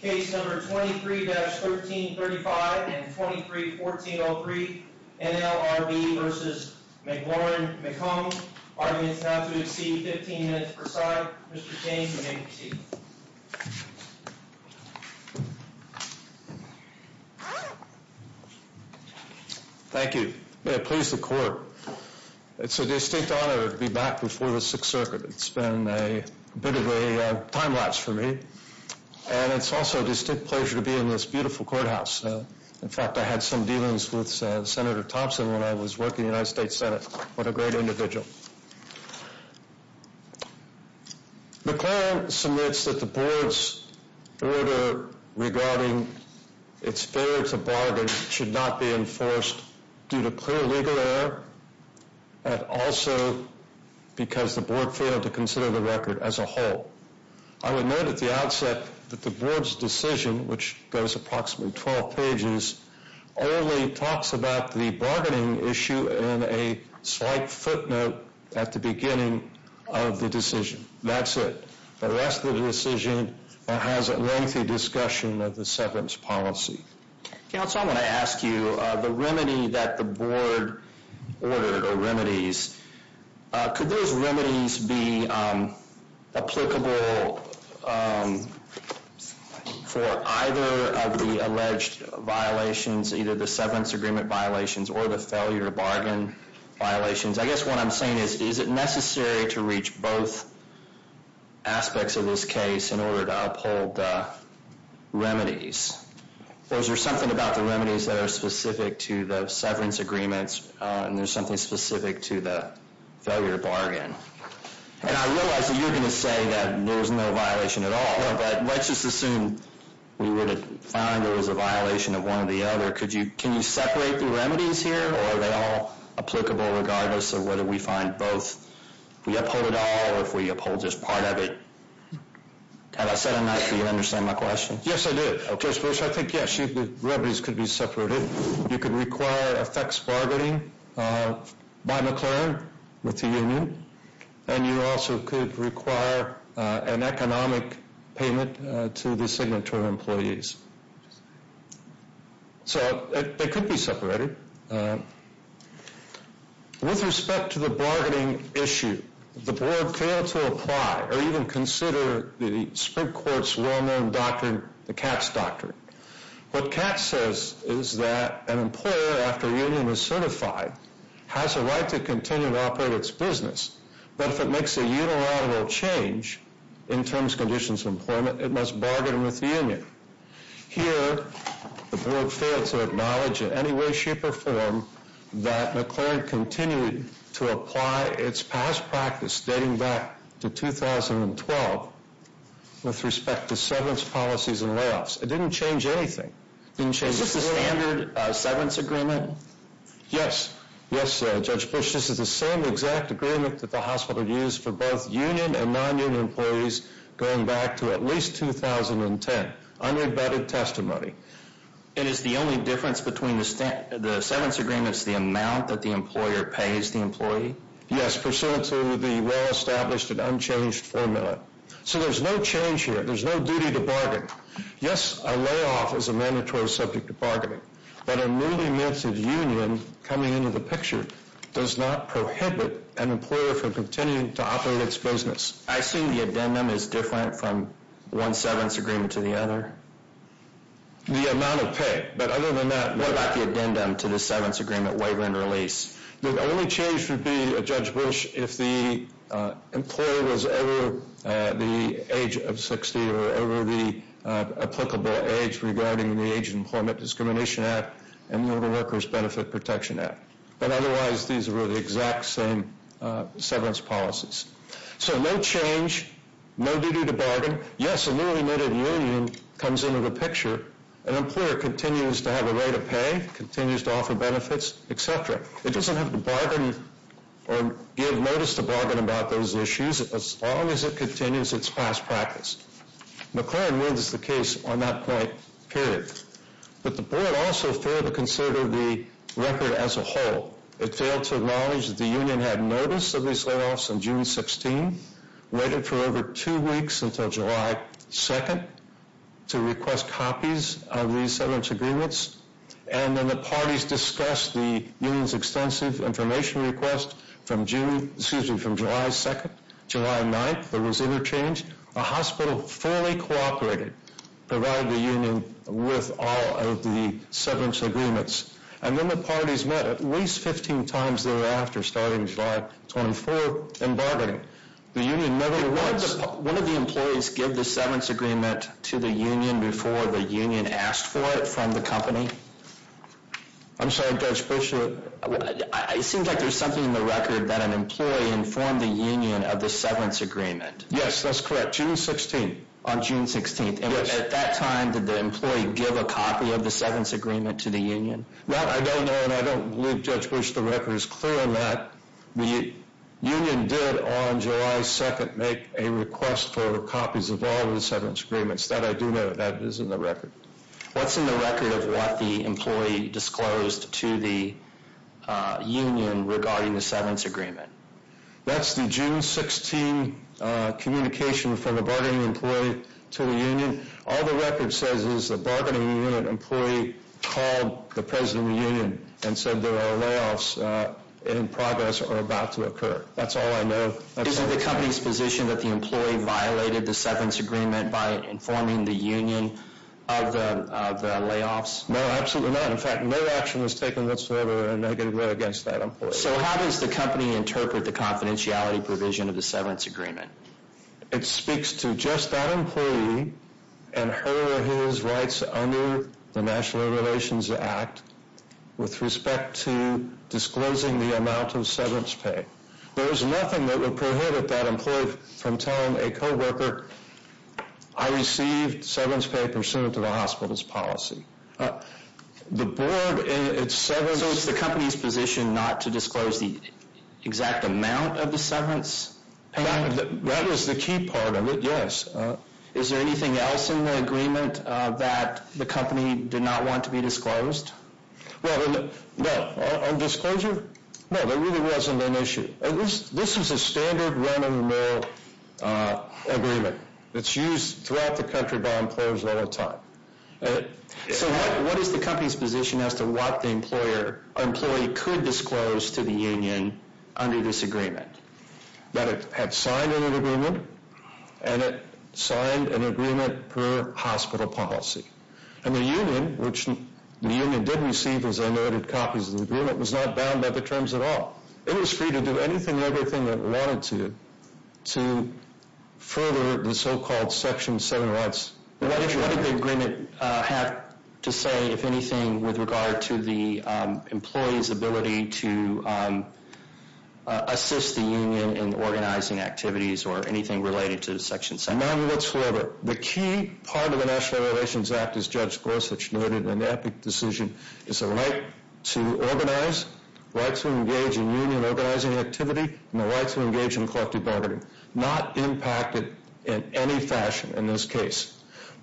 Case number 23-1335 and 23-1403 NLRB v. McLaren Macomb Arguments now to exceed 15 minutes per side Mr. Cain, you may proceed Thank you May it please the court It's a distinct honor to be back before the Sixth Circuit It's been a bit of a time lapse for me And it's also a distinct pleasure to be in this beautiful courthouse In fact, I had some dealings with Senator Thompson when I was working in the United States Senate What a great individual McLaren submits that the board's order regarding its failure to bargain should not be enforced due to clear legal error And also because the board failed to consider the record as a whole I would note at the outset that the board's decision, which goes approximately 12 pages Only talks about the bargaining issue and a slight footnote at the beginning of the decision That's it The rest of the decision has a lengthy discussion of the settlement's policy Counsel, I want to ask you The remedy that the board ordered or remedies Could those remedies be applicable for either of the alleged violations Either the severance agreement violations or the failure to bargain violations I guess what I'm saying is, is it necessary to reach both aspects of this case in order to uphold the remedies? Those are something about the remedies that are specific to the severance agreements And there's something specific to the failure to bargain And I realize that you're going to say that there was no violation at all But let's just assume we were to find there was a violation of one or the other Can you separate the remedies here? Or are they all applicable regardless of whether we find both We uphold it all or if we uphold just part of it Have I said enough? Do you understand my question? Yes, I do I think yes, the remedies could be separated You could require a fax bargaining by McLaren with the union And you also could require an economic payment to the signatory employees So they could be separated With respect to the bargaining issue The board failed to apply or even consider the Supreme Court's well-known doctrine, the Katz Doctrine What Katz says is that an employer after a union is certified Has a right to continue to operate its business But if it makes a unilateral change in terms, conditions of employment It must bargain with the union Here, the board failed to acknowledge in any way, shape or form That McLaren continued to apply its past practice dating back to 2012 With respect to severance policies and layoffs It didn't change anything Is this a standard severance agreement? Yes, Judge Bush, this is the same exact agreement that the hospital used For both union and non-union employees going back to at least 2010 Unabetted testimony And is the only difference between the severance agreements The amount that the employer pays the employee? Yes, pursuant to the well-established and unchanged formula So there's no change here, there's no duty to bargain Yes, a layoff is a mandatory subject to bargaining But a newly minted union, coming into the picture Does not prohibit an employer from continuing to operate its business I assume the addendum is different from one severance agreement to the other? The amount of pay, but other than that What about the addendum to the severance agreement, waiver and release? The only change would be, Judge Bush, if the employer was ever The age of 60 or over the applicable age Regarding the Age of Employment Discrimination Act And the Older Workers Benefit Protection Act But otherwise these were the exact same severance policies So no change, no duty to bargain Yes, a newly minted union comes into the picture An employer continues to have a rate of pay Continues to offer benefits, etc. It doesn't have to bargain or give notice to bargain about those issues As long as it continues its past practice McClellan wins the case on that point, period But the board also failed to consider the record as a whole It failed to acknowledge that the union had notice of these layoffs on June 16 Waited for over two weeks until July 2nd To request copies of these severance agreements And then the parties discussed the union's extensive information request From July 2nd, July 9th there was interchange The hospital fully cooperated Provided the union with all of the severance agreements And then the parties met at least 15 times thereafter Starting July 24th and bargaining The union never once Did one of the employees give the severance agreement to the union Before the union asked for it from the company? I'm sorry, Judge Bush It seems like there's something in the record That an employee informed the union of the severance agreement Yes, that's correct, June 16th On June 16th At that time did the employee give a copy of the severance agreement to the union? No, I don't know and I don't believe, Judge Bush, the record is clear on that The union did on July 2nd make a request for copies of all of the severance agreements That I do know that is in the record What's in the record of what the employee disclosed to the union Regarding the severance agreement? That's the June 16th communication from the bargaining employee to the union All the record says is the bargaining unit employee called the president of the union And said there are layoffs in progress or about to occur That's all I know Is it the company's position that the employee violated the severance agreement By informing the union of the layoffs? No, absolutely not In fact, no action was taken whatsoever against that employee So how does the company interpret the confidentiality provision of the severance agreement? It speaks to just that employee and her or his rights under the National Relations Act With respect to disclosing the amount of severance pay There is nothing that would prohibit that employee from telling a co-worker I received severance pay pursuant to the hospital's policy The board in its severance So it's the company's position not to disclose the exact amount of the severance pay? That is the key part of it, yes Is there anything else in the agreement that the company did not want to be disclosed? No, on disclosure? No, there really wasn't an issue This is a standard run of the mill agreement It's used throughout the country by employers all the time So what is the company's position as to what the employee could disclose to the union under this agreement? That it had signed an agreement And it signed an agreement per hospital policy And the union, which the union did receive as I noted copies of the agreement Was not bound by the terms at all It was free to do anything and everything it wanted to To further the so-called Section 7 rights What did the agreement have to say, if anything With regard to the employee's ability to assist the union in organizing activities Or anything related to Section 7? None whatsoever The key part of the National Relations Act, as Judge Gorsuch noted in the epic decision Is the right to organize, the right to engage in union organizing activity And the right to engage in collective bargaining Not impacted in any fashion in this case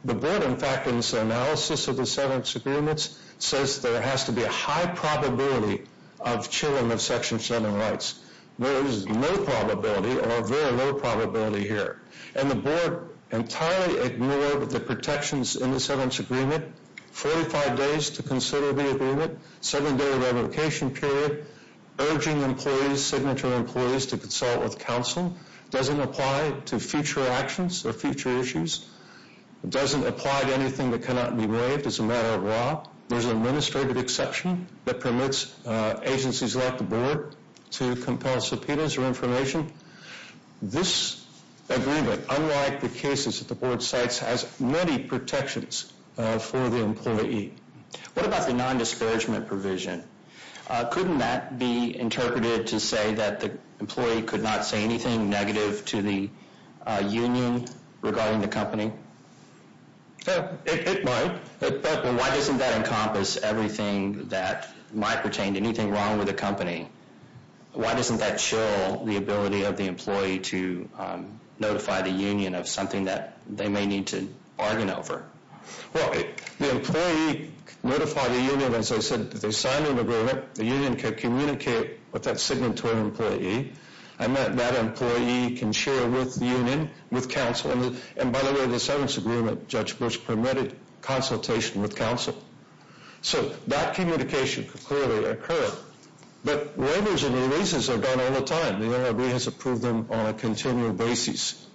The board, in fact, in its analysis of the severance agreements Says there has to be a high probability of chilling of Section 7 rights There is no probability or very low probability here And the board entirely ignored the protections in the severance agreement 45 days to consider the agreement 7 day revocation period Urging employees, signature employees to consult with counsel Doesn't apply to future actions or future issues Doesn't apply to anything that cannot be waived as a matter of law There is an administrative exception that permits agencies like the board To compel subpoenas or information This agreement, unlike the cases that the board cites Has many protections for the employee What about the non-disparagement provision? Couldn't that be interpreted to say that the employee Could not say anything negative to the union regarding the company? It might Why doesn't that encompass everything that might pertain to anything wrong with the company? Why doesn't that show the ability of the employee to notify the union Of something that they may need to bargain over? Well, the employee notified the union, as I said, that they signed an agreement The union could communicate with that signatory employee And that employee can share with the union, with counsel And by the way, the severance agreement, Judge Bush, permitted consultation with counsel So that communication could clearly occur But waivers and releases are done all the time The NRAB has approved them on a continual basis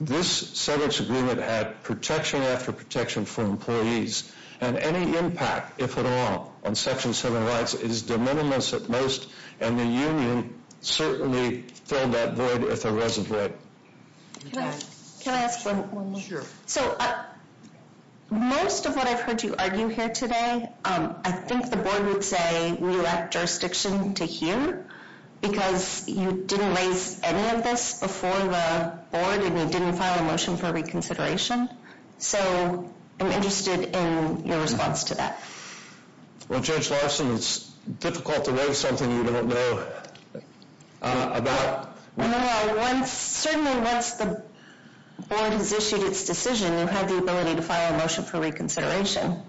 This severance agreement had protection after protection for employees And any impact, if at all, on Section 7 rights is de minimis at most And the union certainly filled that void with a reservoir Can I ask one more? Sure So, most of what I've heard you argue here today I think the board would say we lack jurisdiction to hear Because you didn't raise any of this before the board And you didn't file a motion for reconsideration So, I'm interested in your response to that Well, Judge Larson, it's difficult to raise something you don't know about No, certainly once the board has issued its decision You have the ability to file a motion for reconsideration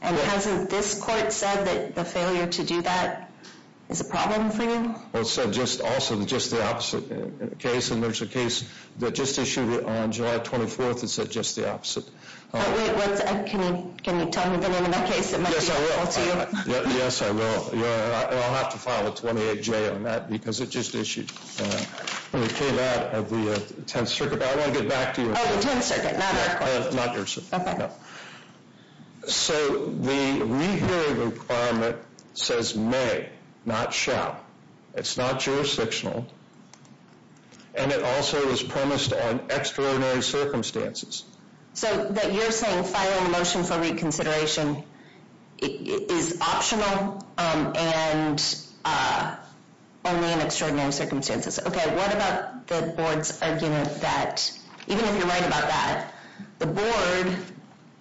And hasn't this court said that the failure to do that is a problem for you? Well, it said also just the opposite case And there's a case that just issued it on July 24th that said just the opposite Can you tell me the name of that case? It might be helpful to you Yes, I will And I'll have to file a 28-J on that because it just issued And it came out of the 10th Circuit I want to get back to you Oh, the 10th Circuit, not our court Not your circuit Okay So the rehearing requirement says may, not shall It's not jurisdictional And it also is premised on extraordinary circumstances So that you're saying filing a motion for reconsideration Is optional and only in extraordinary circumstances Okay, what about the board's argument that Even if you're right about that The board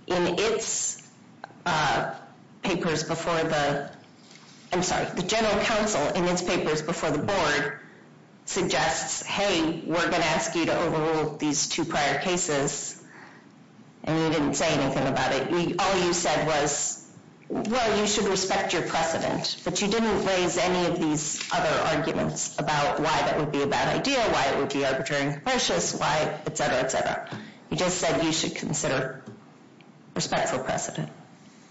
in its papers before the I'm sorry, the general counsel in its papers before the board Suggests, hey, we're going to ask you to overrule these two prior cases And you didn't say anything about it All you said was, well, you should respect your precedent But you didn't raise any of these other arguments About why that would be a bad idea Why it would be arbitrary and capricious Why, etc, etc You just said you should consider Respectful precedent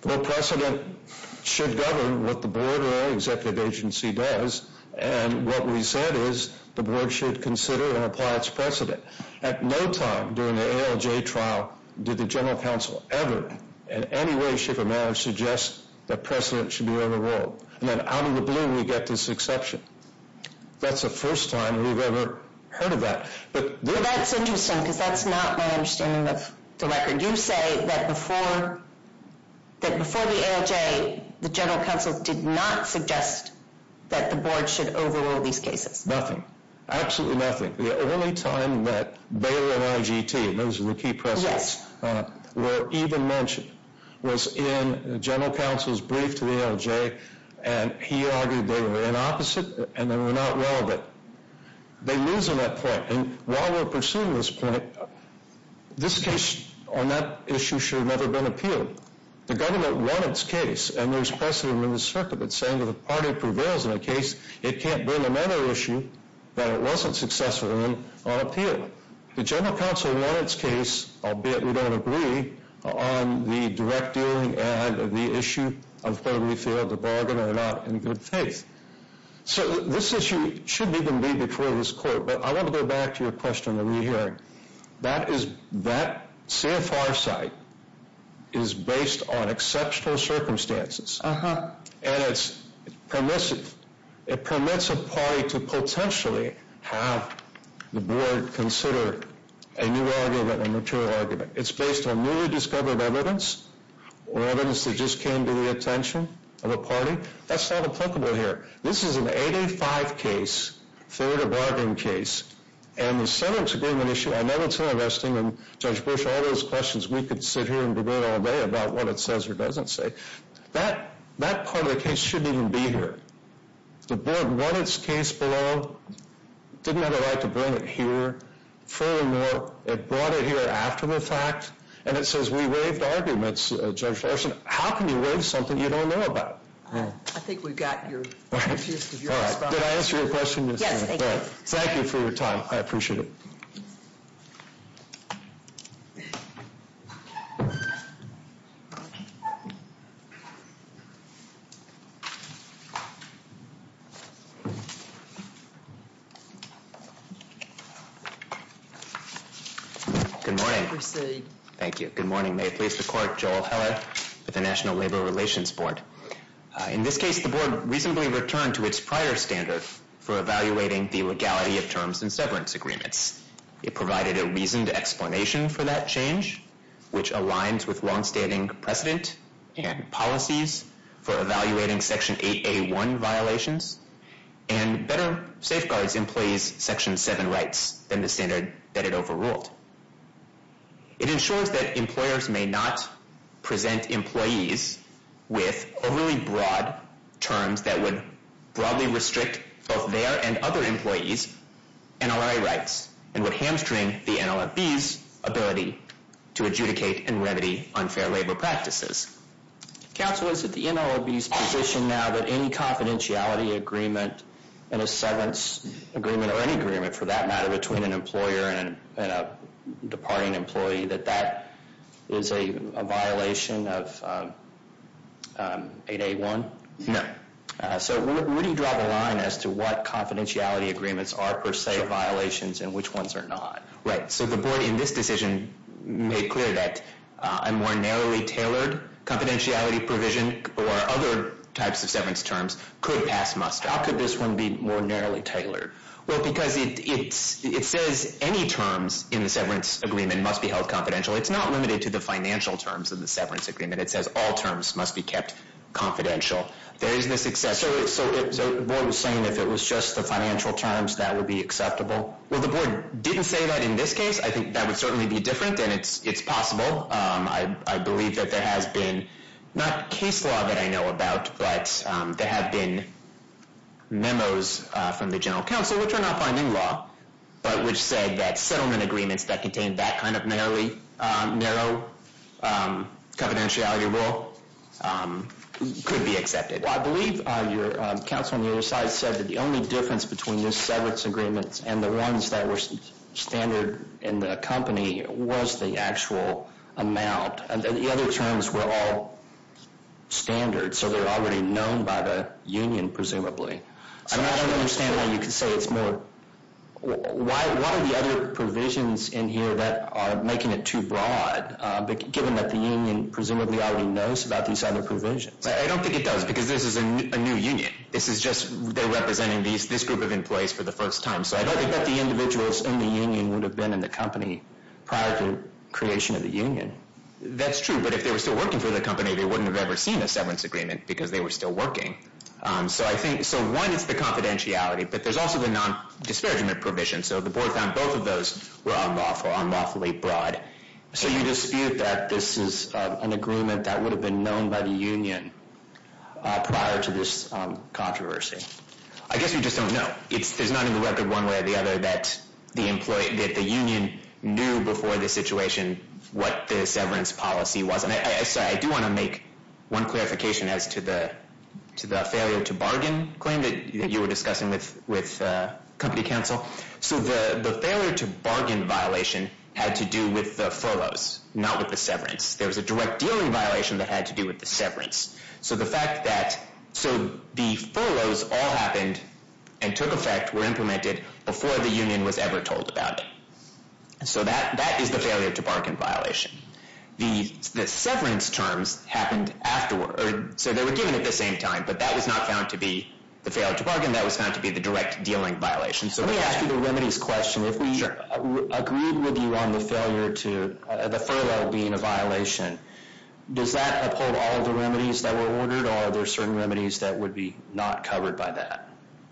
Well, precedent should govern what the board Or any executive agency does And what we said is The board should consider and apply its precedent At no time during the ALJ trial Did the general counsel ever In any way, shape, or manner Suggest that precedent should be overruled And then out of the blue we get this exception That's the first time we've ever heard of that Well, that's interesting Because that's not my understanding of the record You say that before the ALJ The general counsel did not suggest That the board should overrule these cases Nothing Absolutely nothing The only time that Baylor and IGT Those were the key precedents Were even mentioned Was in the general counsel's brief to the ALJ And he argued they were the opposite And they were not relevant They lose in that point And while we're pursuing this point This case on that issue should have never been appealed The government won its case And there's precedent in the circuit That's saying that if a party prevails in a case It can't bring another issue That it wasn't successful in on appeal The general counsel won its case Albeit we don't agree On the direct dealing and the issue Of whether we failed the bargain or not In good faith So this issue should even be before this court But I want to go back to your question of the re-hearing That CFR site Is based on exceptional circumstances And it's permissive It permits a party to potentially Have the board consider A new argument, a mature argument It's based on newly discovered evidence Or evidence that just came to the attention Of a party That's not applicable here This is an 8-8-5 case Fair to bargain case And the settlement agreement issue I know it's interesting And Judge Bush, all those questions We could sit here and debate all day About what it says or doesn't say That part of the case shouldn't even be here The board won its case below Didn't have a right to bring it here Furthermore, it brought it here after the fact And it says we waived arguments, Judge Larson How can you waive something you don't know about? I think we've got your Did I answer your question? Yes, thank you Thank you for your time I appreciate it Good morning Thank you Good morning May it please the court Joel Heller I'm Joel Heller With the National Labor Relations Board In this case, the board reasonably returned To its prior standard For evaluating the legality Of terms and severance agreements It provided a reasoned explanation For that change Which aligns with long-standing precedent And policies For evaluating Section 8A1 violations And better safeguards employees' Section 7 rights Than the standard that it overruled It ensures that employers May not present employees With overly broad terms That would broadly restrict Both their and other employees' NLRA rights And would hamstring the NLFB's ability To adjudicate and remedy unfair labor practices Counsel, is it the NLFB's position now That any confidentiality agreement And a severance agreement Or any agreement for that matter Between an employer And a departing employee That that is a violation of 8A1? So would you draw the line As to what confidentiality agreements Are per se violations And which ones are not? Right, so the board in this decision Made clear that a more narrowly tailored Confidentiality provision Or other types of severance terms Could pass muster How could this one be more narrowly tailored? Well, because it says Any terms in the severance agreement Must be held confidential It's not limited to the financial terms Of the severance agreement It says all terms must be kept confidential There is this exception So the board was saying If it was just the financial terms That would be acceptable? Well, the board didn't say that in this case I think that would certainly be different And it's possible I believe that there has been Not case law that I know about But there have been memos From the general counsel Which are not binding law But which said that Settlement agreements that contain That kind of narrow confidentiality rule Could be accepted Well, I believe your counsel on the other side Said that the only difference Between the severance agreements And the ones that were standard In the company was the actual amount And the other terms were all standard So they're already known By the union, presumably I don't understand Why you could say it's more Why are the other provisions in here That are making it too broad Given that the union Presumably already knows About these other provisions I don't think it does Because this is a new union This is just They're representing This group of employees For the first time So I don't think that the individuals In the union would have been In the company Prior to creation of the union That's true But if they were still working for the company They wouldn't have ever seen A severance agreement Because they were still working So I think So one is the confidentiality But there's also The non-disparagement provision So the board found Both of those Were unlawfully broad So you dispute that This is an agreement That would have been known By the union Prior to this controversy I guess you just don't know There's not in the record One way or the other That the union Knew before the situation What the severance policy was I do want to make One clarification As to the failure to bargain claim That you were discussing With company counsel So the failure to bargain violation Had to do with the furloughs Not with the severance There was a direct dealing violation That had to do with the severance So the fact that So the furloughs all happened And took effect Were implemented Before the union Was ever told about it So that is the failure To bargain violation The severance terms Happened afterward So they were given At the same time But that was not found to be The failure to bargain That was found to be The direct dealing violation So let me ask you The remedies question If we agreed with you On the failure to The furlough being a violation Does that uphold All of the remedies That were ordered Or are there certain remedies That would be not covered by that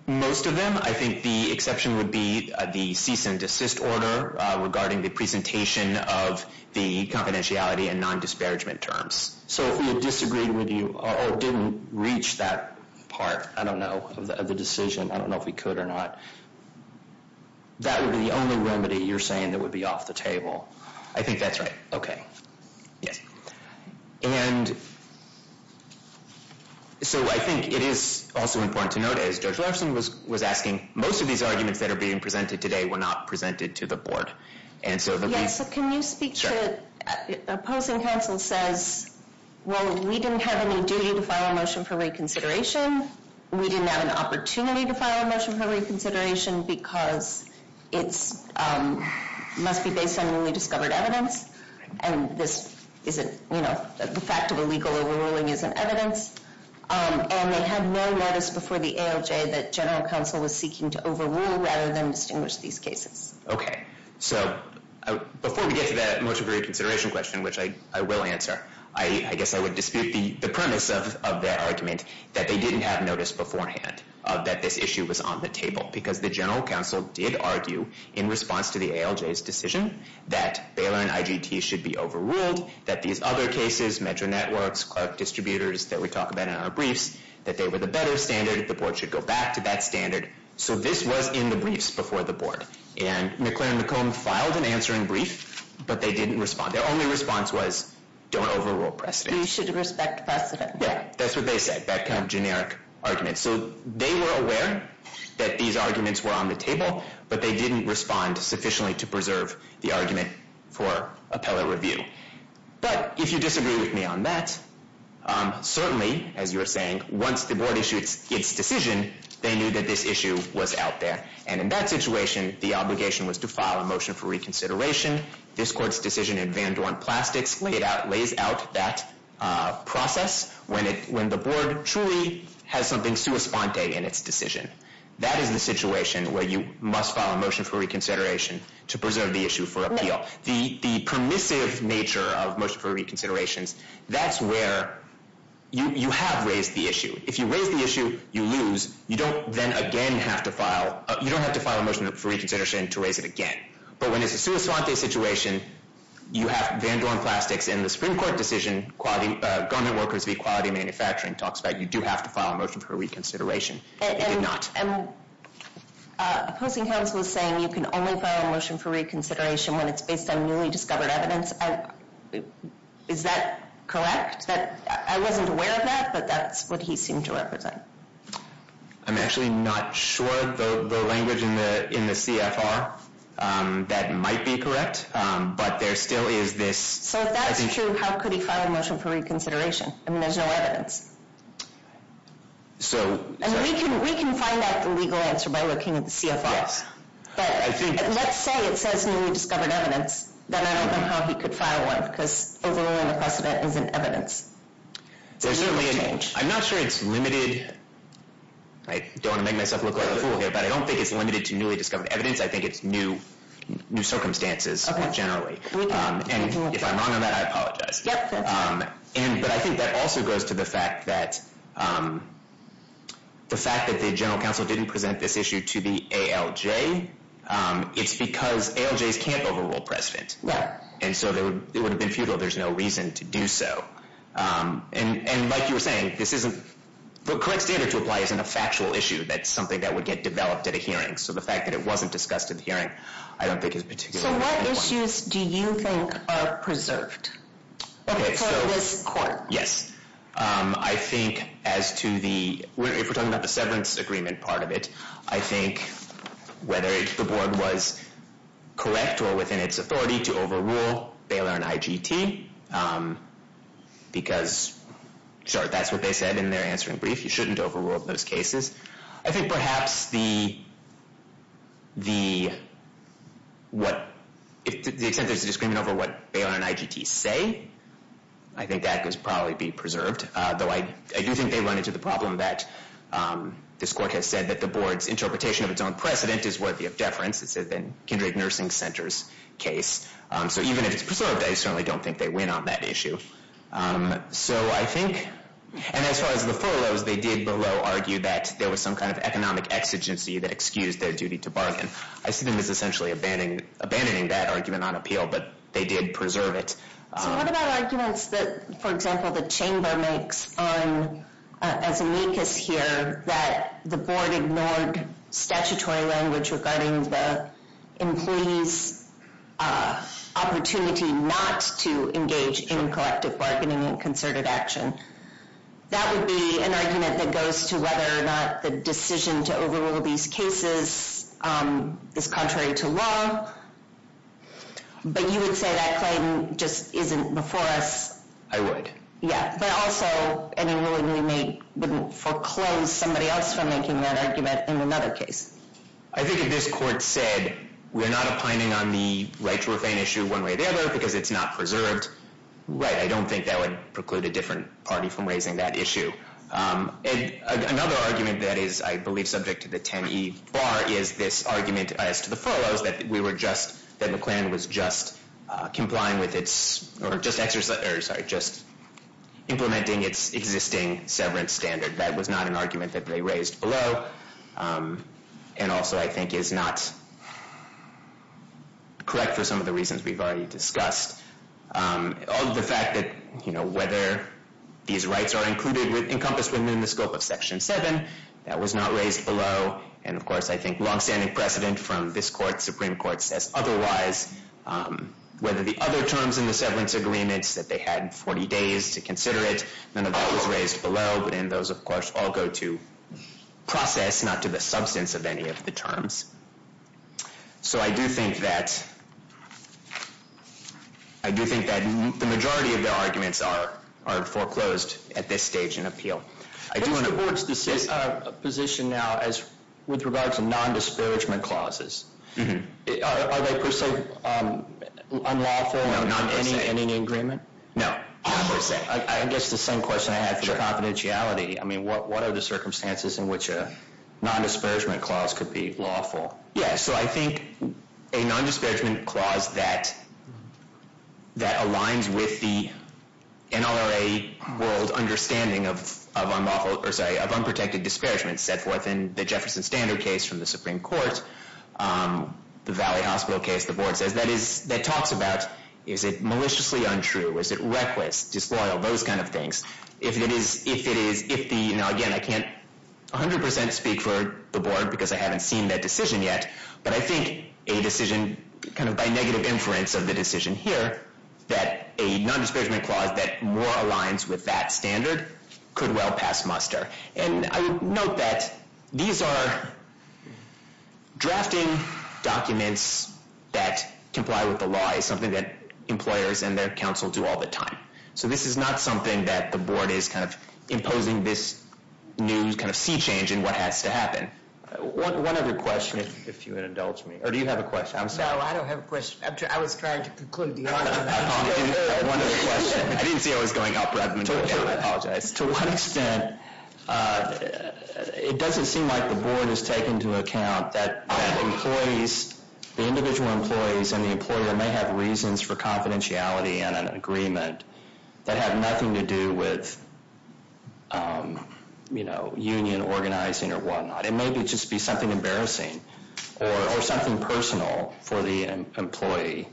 Most of them I think the exception would be The cease and desist order Regarding the presentation Of the confidentiality And non-disparagement terms So if we disagreed with you Or didn't reach that part I don't know Of the decision I don't know if we could or not That would be the only remedy You're saying That would be off the table I think that's right Okay Yes And So I think it is Also important to note As Judge Larson was asking Most of these arguments That are being presented today Were not presented to the board And so Yes, but can you speak to Opposing counsel says Well, we didn't have any duty To file a motion for reconsideration We didn't have an opportunity To file a motion for reconsideration Because It's Must be based on newly discovered evidence And this isn't You know The fact of illegal overruling Isn't evidence And they had no notice Before the ALJ That general counsel Was seeking to overrule Rather than distinguish these cases Okay So Before we get to that Motion for reconsideration question Which I will answer I guess I would dispute The premise of their argument That they didn't have notice beforehand That this issue was on the table Because the general counsel Did argue In response to the ALJ's decision That Baylor and IGT Should be overruled That these other cases Metro networks Clerk distributors That we talk about in our briefs That they were the better standard The board should go back To that standard So this was in the briefs Before the board And McClain and McComb Filed an answer in brief But they didn't respond Their only response was Don't overrule precedent You should respect precedent Yeah That's what they said That kind of generic argument So They were aware That these arguments Were on the table But they didn't respond Sufficiently to preserve The argument For appellate review But If you disagree with me on that Certainly As you were saying Once the board issued Its decision They knew that this issue Was out there And in that situation The obligation was To file a motion For reconsideration This court's decision In Van Dorn Plastics Lays out That Process When the board Truly Has something Sui sponte In its decision That is the situation Where you Must file a motion For reconsideration To preserve the issue For appeal The permissive nature Of motion for reconsiderations That's where You have raised the issue If you raise the issue You lose You don't then again You don't have to file You don't have to file A motion for reconsideration To raise it again But when it's a sui sponte Situation You have Van Dorn Plastics In the Supreme Court decision Quality Government workers Equality manufacturing Talks about You do have to file A motion for reconsideration It did not And Opposing counsel Is saying You can only File a motion For reconsideration When it's based On newly discovered Evidence Is that Correct I wasn't aware of that But that's what He seemed to represent I'm actually not Sure The language In the CFR That might be correct But there still is this So if that's true How could he file A motion for reconsideration I mean there's no evidence So We can find out The legal answer By looking at the CFR Let's say It says newly discovered Evidence Then I don't know How he could file one Because Overruling the precedent Isn't evidence I'm not sure It's limited I don't want to make Myself look like a fool here But I don't think It's limited to Newly discovered evidence I think it's new Circumstances Generally And if I'm wrong on that I apologize But I think that also Goes to the fact that The fact that the general Counsel didn't present This issue to the ALJ It's because ALJs Can't overrule precedent And so It would have been futile There's no reason to do so And like you were saying This isn't The correct standard to apply Isn't a factual issue That's something that would Get developed at a hearing So the fact that it wasn't Discussed at a hearing I don't think is particularly So what issues do you think Are preserved Okay so For this court Yes I think As to the If we're talking about The severance agreement Part of it I think Whether the board was Correct or within its Authority to overrule Baylor and IGT Because Sure that's what they said In their answering brief You shouldn't overrule Those cases I think perhaps The The What The extent there's a Discrimination over what Baylor and IGT say I think that could Probably be preserved Though I do think They run into the problem That This court has said That the board's Interpretation of its own Precedent is worthy of Deference It's been Kindred Nursing Center's Case So even if it's Preserved I certainly Don't think they win On that issue So I think And as far as The furloughs They did below Argue that There was some kind of Economic exigency That excused their duty To bargain I see them as essentially Abandoning that argument On appeal But they did preserve it So what about Arguments that For example the Chamber makes On As amicus here That The board ignored Statutory language Regarding the Employees Opportunity Not To engage In collective Bargaining And concerted Action That would be An argument that Goes to whether Or not the Decision to Overrule these Cases Is contrary to Law But you would say That claim Just isn't Before us I would Yeah But also Any ruling we Make wouldn't Foreclose somebody Else from making That argument In another case I think if this Court said We're not opining On the Right to Refrain issue One way or the other Because it's not Preserved Right, I don't Think that would Preclude a different Party from raising That issue And another Argument that is I believe subject To the 10 E Bar is this Argument as to the Follows that we Were just That McLennan Was just Complying with It's Or just Implementing its Existing severance Standard That was not an Argument that they Raised below And also I think Is not Correct for some Of the reasons We've already Discussed On the fact That you know Whether These rights are Included with Encompassed within The scope of Section 7 That was not Raised below And of course I Think long-standing Precedent from This Court Supreme Court Says otherwise Whether the Other terms in The severance Agreements that They had in 40 Days to Consider it None of Those raised Below but in Those of course All go to Process not to The substance of Any of the Terms so I Do think that I do think that The majority of Are are Foreclosed at This stage in Appeal I do Want to Position now as With regards to Non-disparagement Clauses Are they Per se Unlawful Any Agreement No I guess the Same question I Had for confidentiality I mean what What are the Circumstances in Which a Non-disparagement Clause could be Lawful Yeah so I Think a Non-disparagement Clause that That aligns With the NRA World Understanding Of of Unlawful or Sorry of Unprotected Disparagement Set forth in The Jefferson Standard case From the Supreme Court The Valley Hospital case The board Says that Is that Talks about Is it Maliciously Untrue Is it Reckless Disloyal Those kind Of things If it is If it is If the Again I Can't 100% Speak for The board Because I Haven't seen That decision Yet but I Think a Decision kind Of by negative Inference of the Decision here That a Non-disparagement Clause that More aligns With that Standard could Well pass Muster and I would Note that These are Drafting Documents That comply With the Law is Something that Employers and Their council Do all the Time so this Is not Something that The board Is kind Of imposing This new kind Of sea change In what has to Happen One other question If you Indulge me Or do you Have a question I'm sorry No I don't Have a question I was Trying to Conclude To one Extent It doesn't Seem like The board Has taken To account That Employees The individual Employees And the Employer May have Reasons for Confidentiality And an Agreement That had Nothing to do With You know Union organizing Or whatnot And maybe Just be Something embarrassing Or something Personal for The employee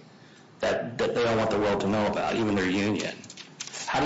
That they Don't want the World to know About even Their union How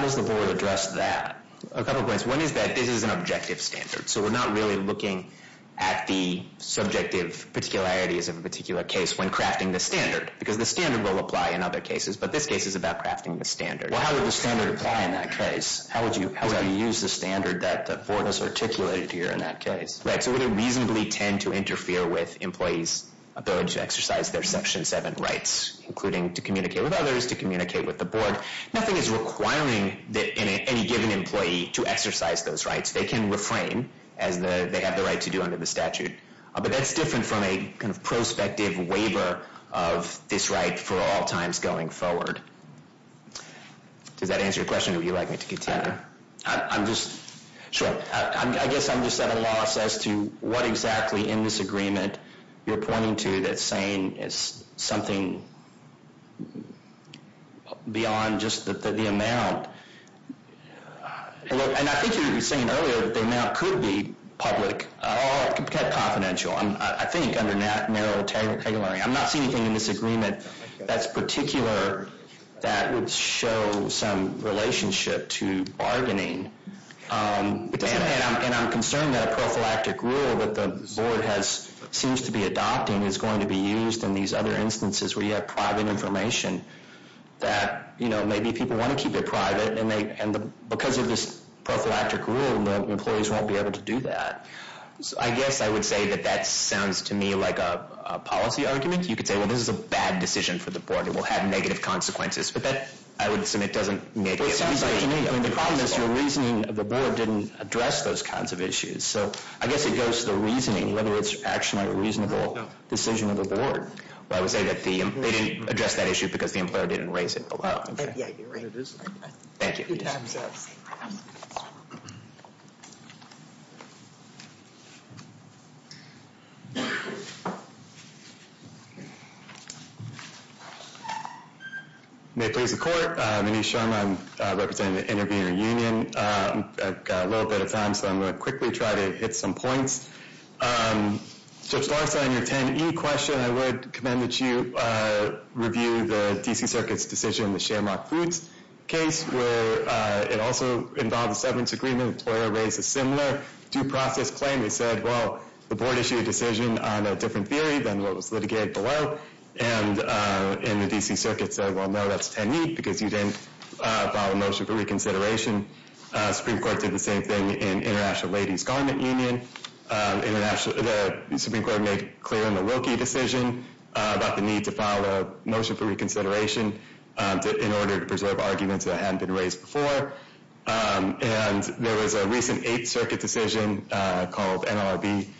does the Board address That A couple Points One is That this Is an Objective Standard So we're Not really Looking At the Subjective Particularities Of a particular Case when Crafting the Standard Because the Standard will Apply in Other cases But this Case is About crafting The standard Well how Would the Standard Apply in That case How would You use The standard That the Board has Articulated Here In that Case Right so Would it Reasonably Tend to Interfere With Employees Ability To Their Section 7 Rights Including To Communicate With Others To Communicate With The Board Nothing Is Requiring Any Employee To Exercise Those Rights They Can Refrain As They Have The To Do Under The Statute But That's Different From A. I'm Not Seeing Anything In This Agreement That's Particular That Would Some Relationship To Bargaining And I'm Concerned That The Board Has Seems To Be Adopting Is Going To Be Used In These Other Instances Where You Have Private Information That Maybe People Want To Keep It And Because Of This Rule Employees Won't Be Able To Do That I Guess I Would Say That That Sounds To Me Like A Policy Argument You Could Say Well This Is A Bad Decision For The Board It Will Have Negative Consequences But That I Would Submit Doesn't Make It Sounds Like The Board Didn't Address Those Kinds Of Issues So I Guess It Goes To The Reasoning Whether It's Actually A Reasonable Decision Of The Board To Say That They Didn't Address That Issue Because The Employer Didn't Raise It Below Thank You May Please The I'm Sorry Board Issued A Decision On A Different Theory Than What Litigated Below And The D.C. Circuit Said No That's Ten You Didn't Reconsider It The Supreme Court Said No That's Didn't Reconsider The Supreme Court Said No Ten It Said That's Ten You Didn't Supreme Said That's Ten You Didn't Reconsider Said That's Ten Didn't Reconsider Supreme No Ten You Didn't Reconsider Didn't Reconsider That's Ten Didn't Reconsider Supreme Court Said No That's Ten You Reconsider Court Said Ten You Reconsider No That's Ten You I Want To Make Is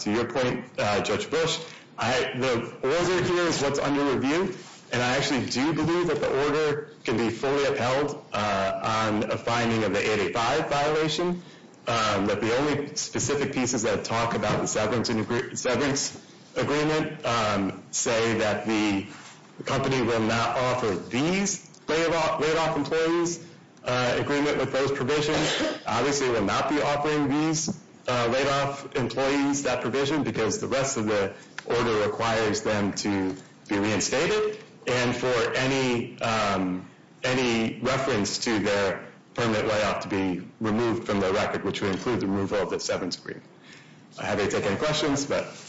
To Your Point Judge Bush The Order Is Under Review And I Do Believe The Order Can Be Fully On The 885 Violation The Only Specific Order Requires Them To Be Reinstated And For Any Any Reference To Their Permit Layoff To Be Removed From The Record Which Would Include The Removal Of The Seven Violations Of The 885 Violation Reinstated And The Really Important Order That Is To Be Removed From The Court I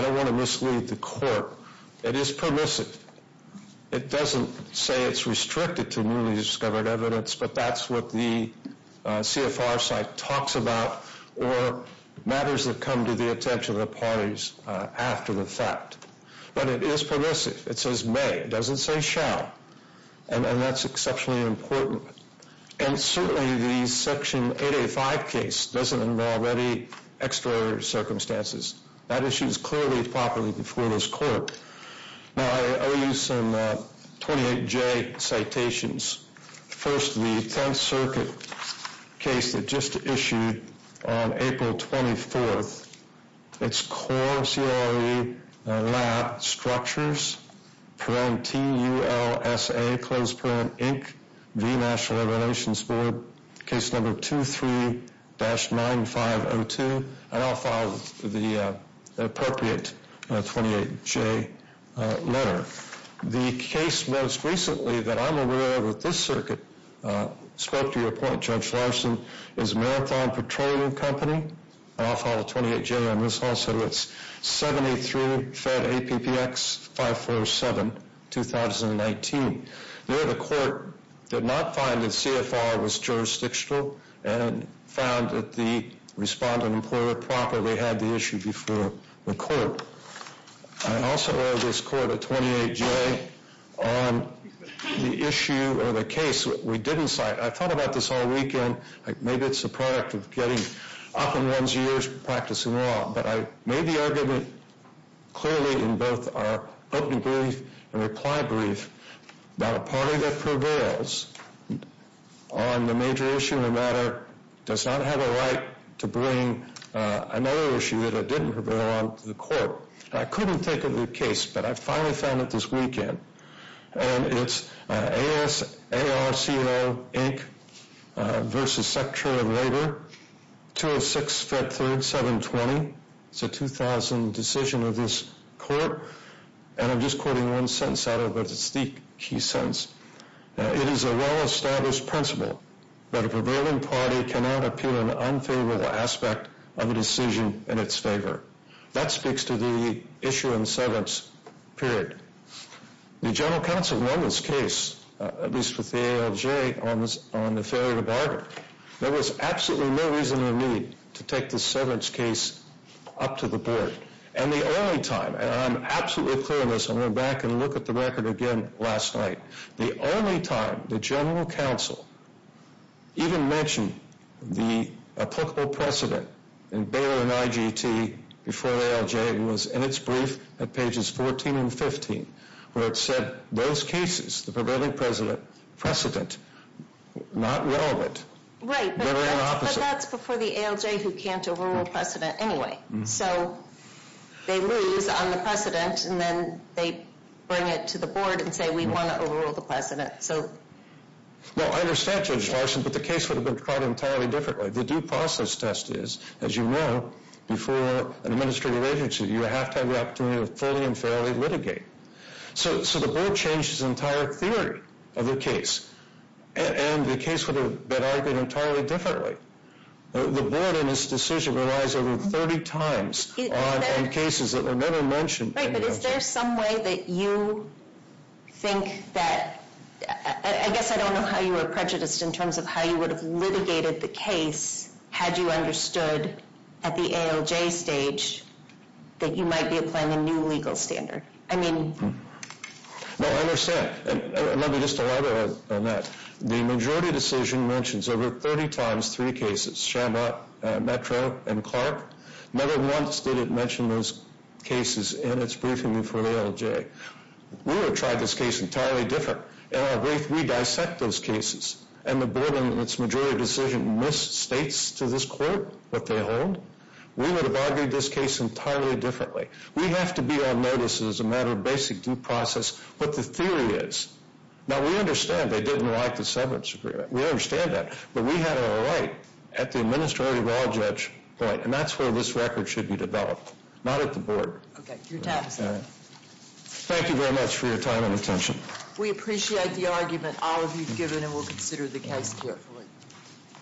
Don't Want To Mislead The Court. Is Permissive. Doesn't Say It Is Restricted To Newly Discovered Evidence. But Is Permissive. Says May. Doesn't Say Shall. And That's Exceptionally Important. Certainly The Section 885 Case Doesn't Involve Any Extra Circumstances. That Issues Clearly Properly Before This Court. I Will Use Some Words To Explain I Don't Want The Court. Don't Want To Mislead The Court. Will You Be Permissive. May. Doesn't That's Exceptionally Important. Properly This Court. Use Some Words To Explain The Court. I Will Use Some Words To Explain The Court. I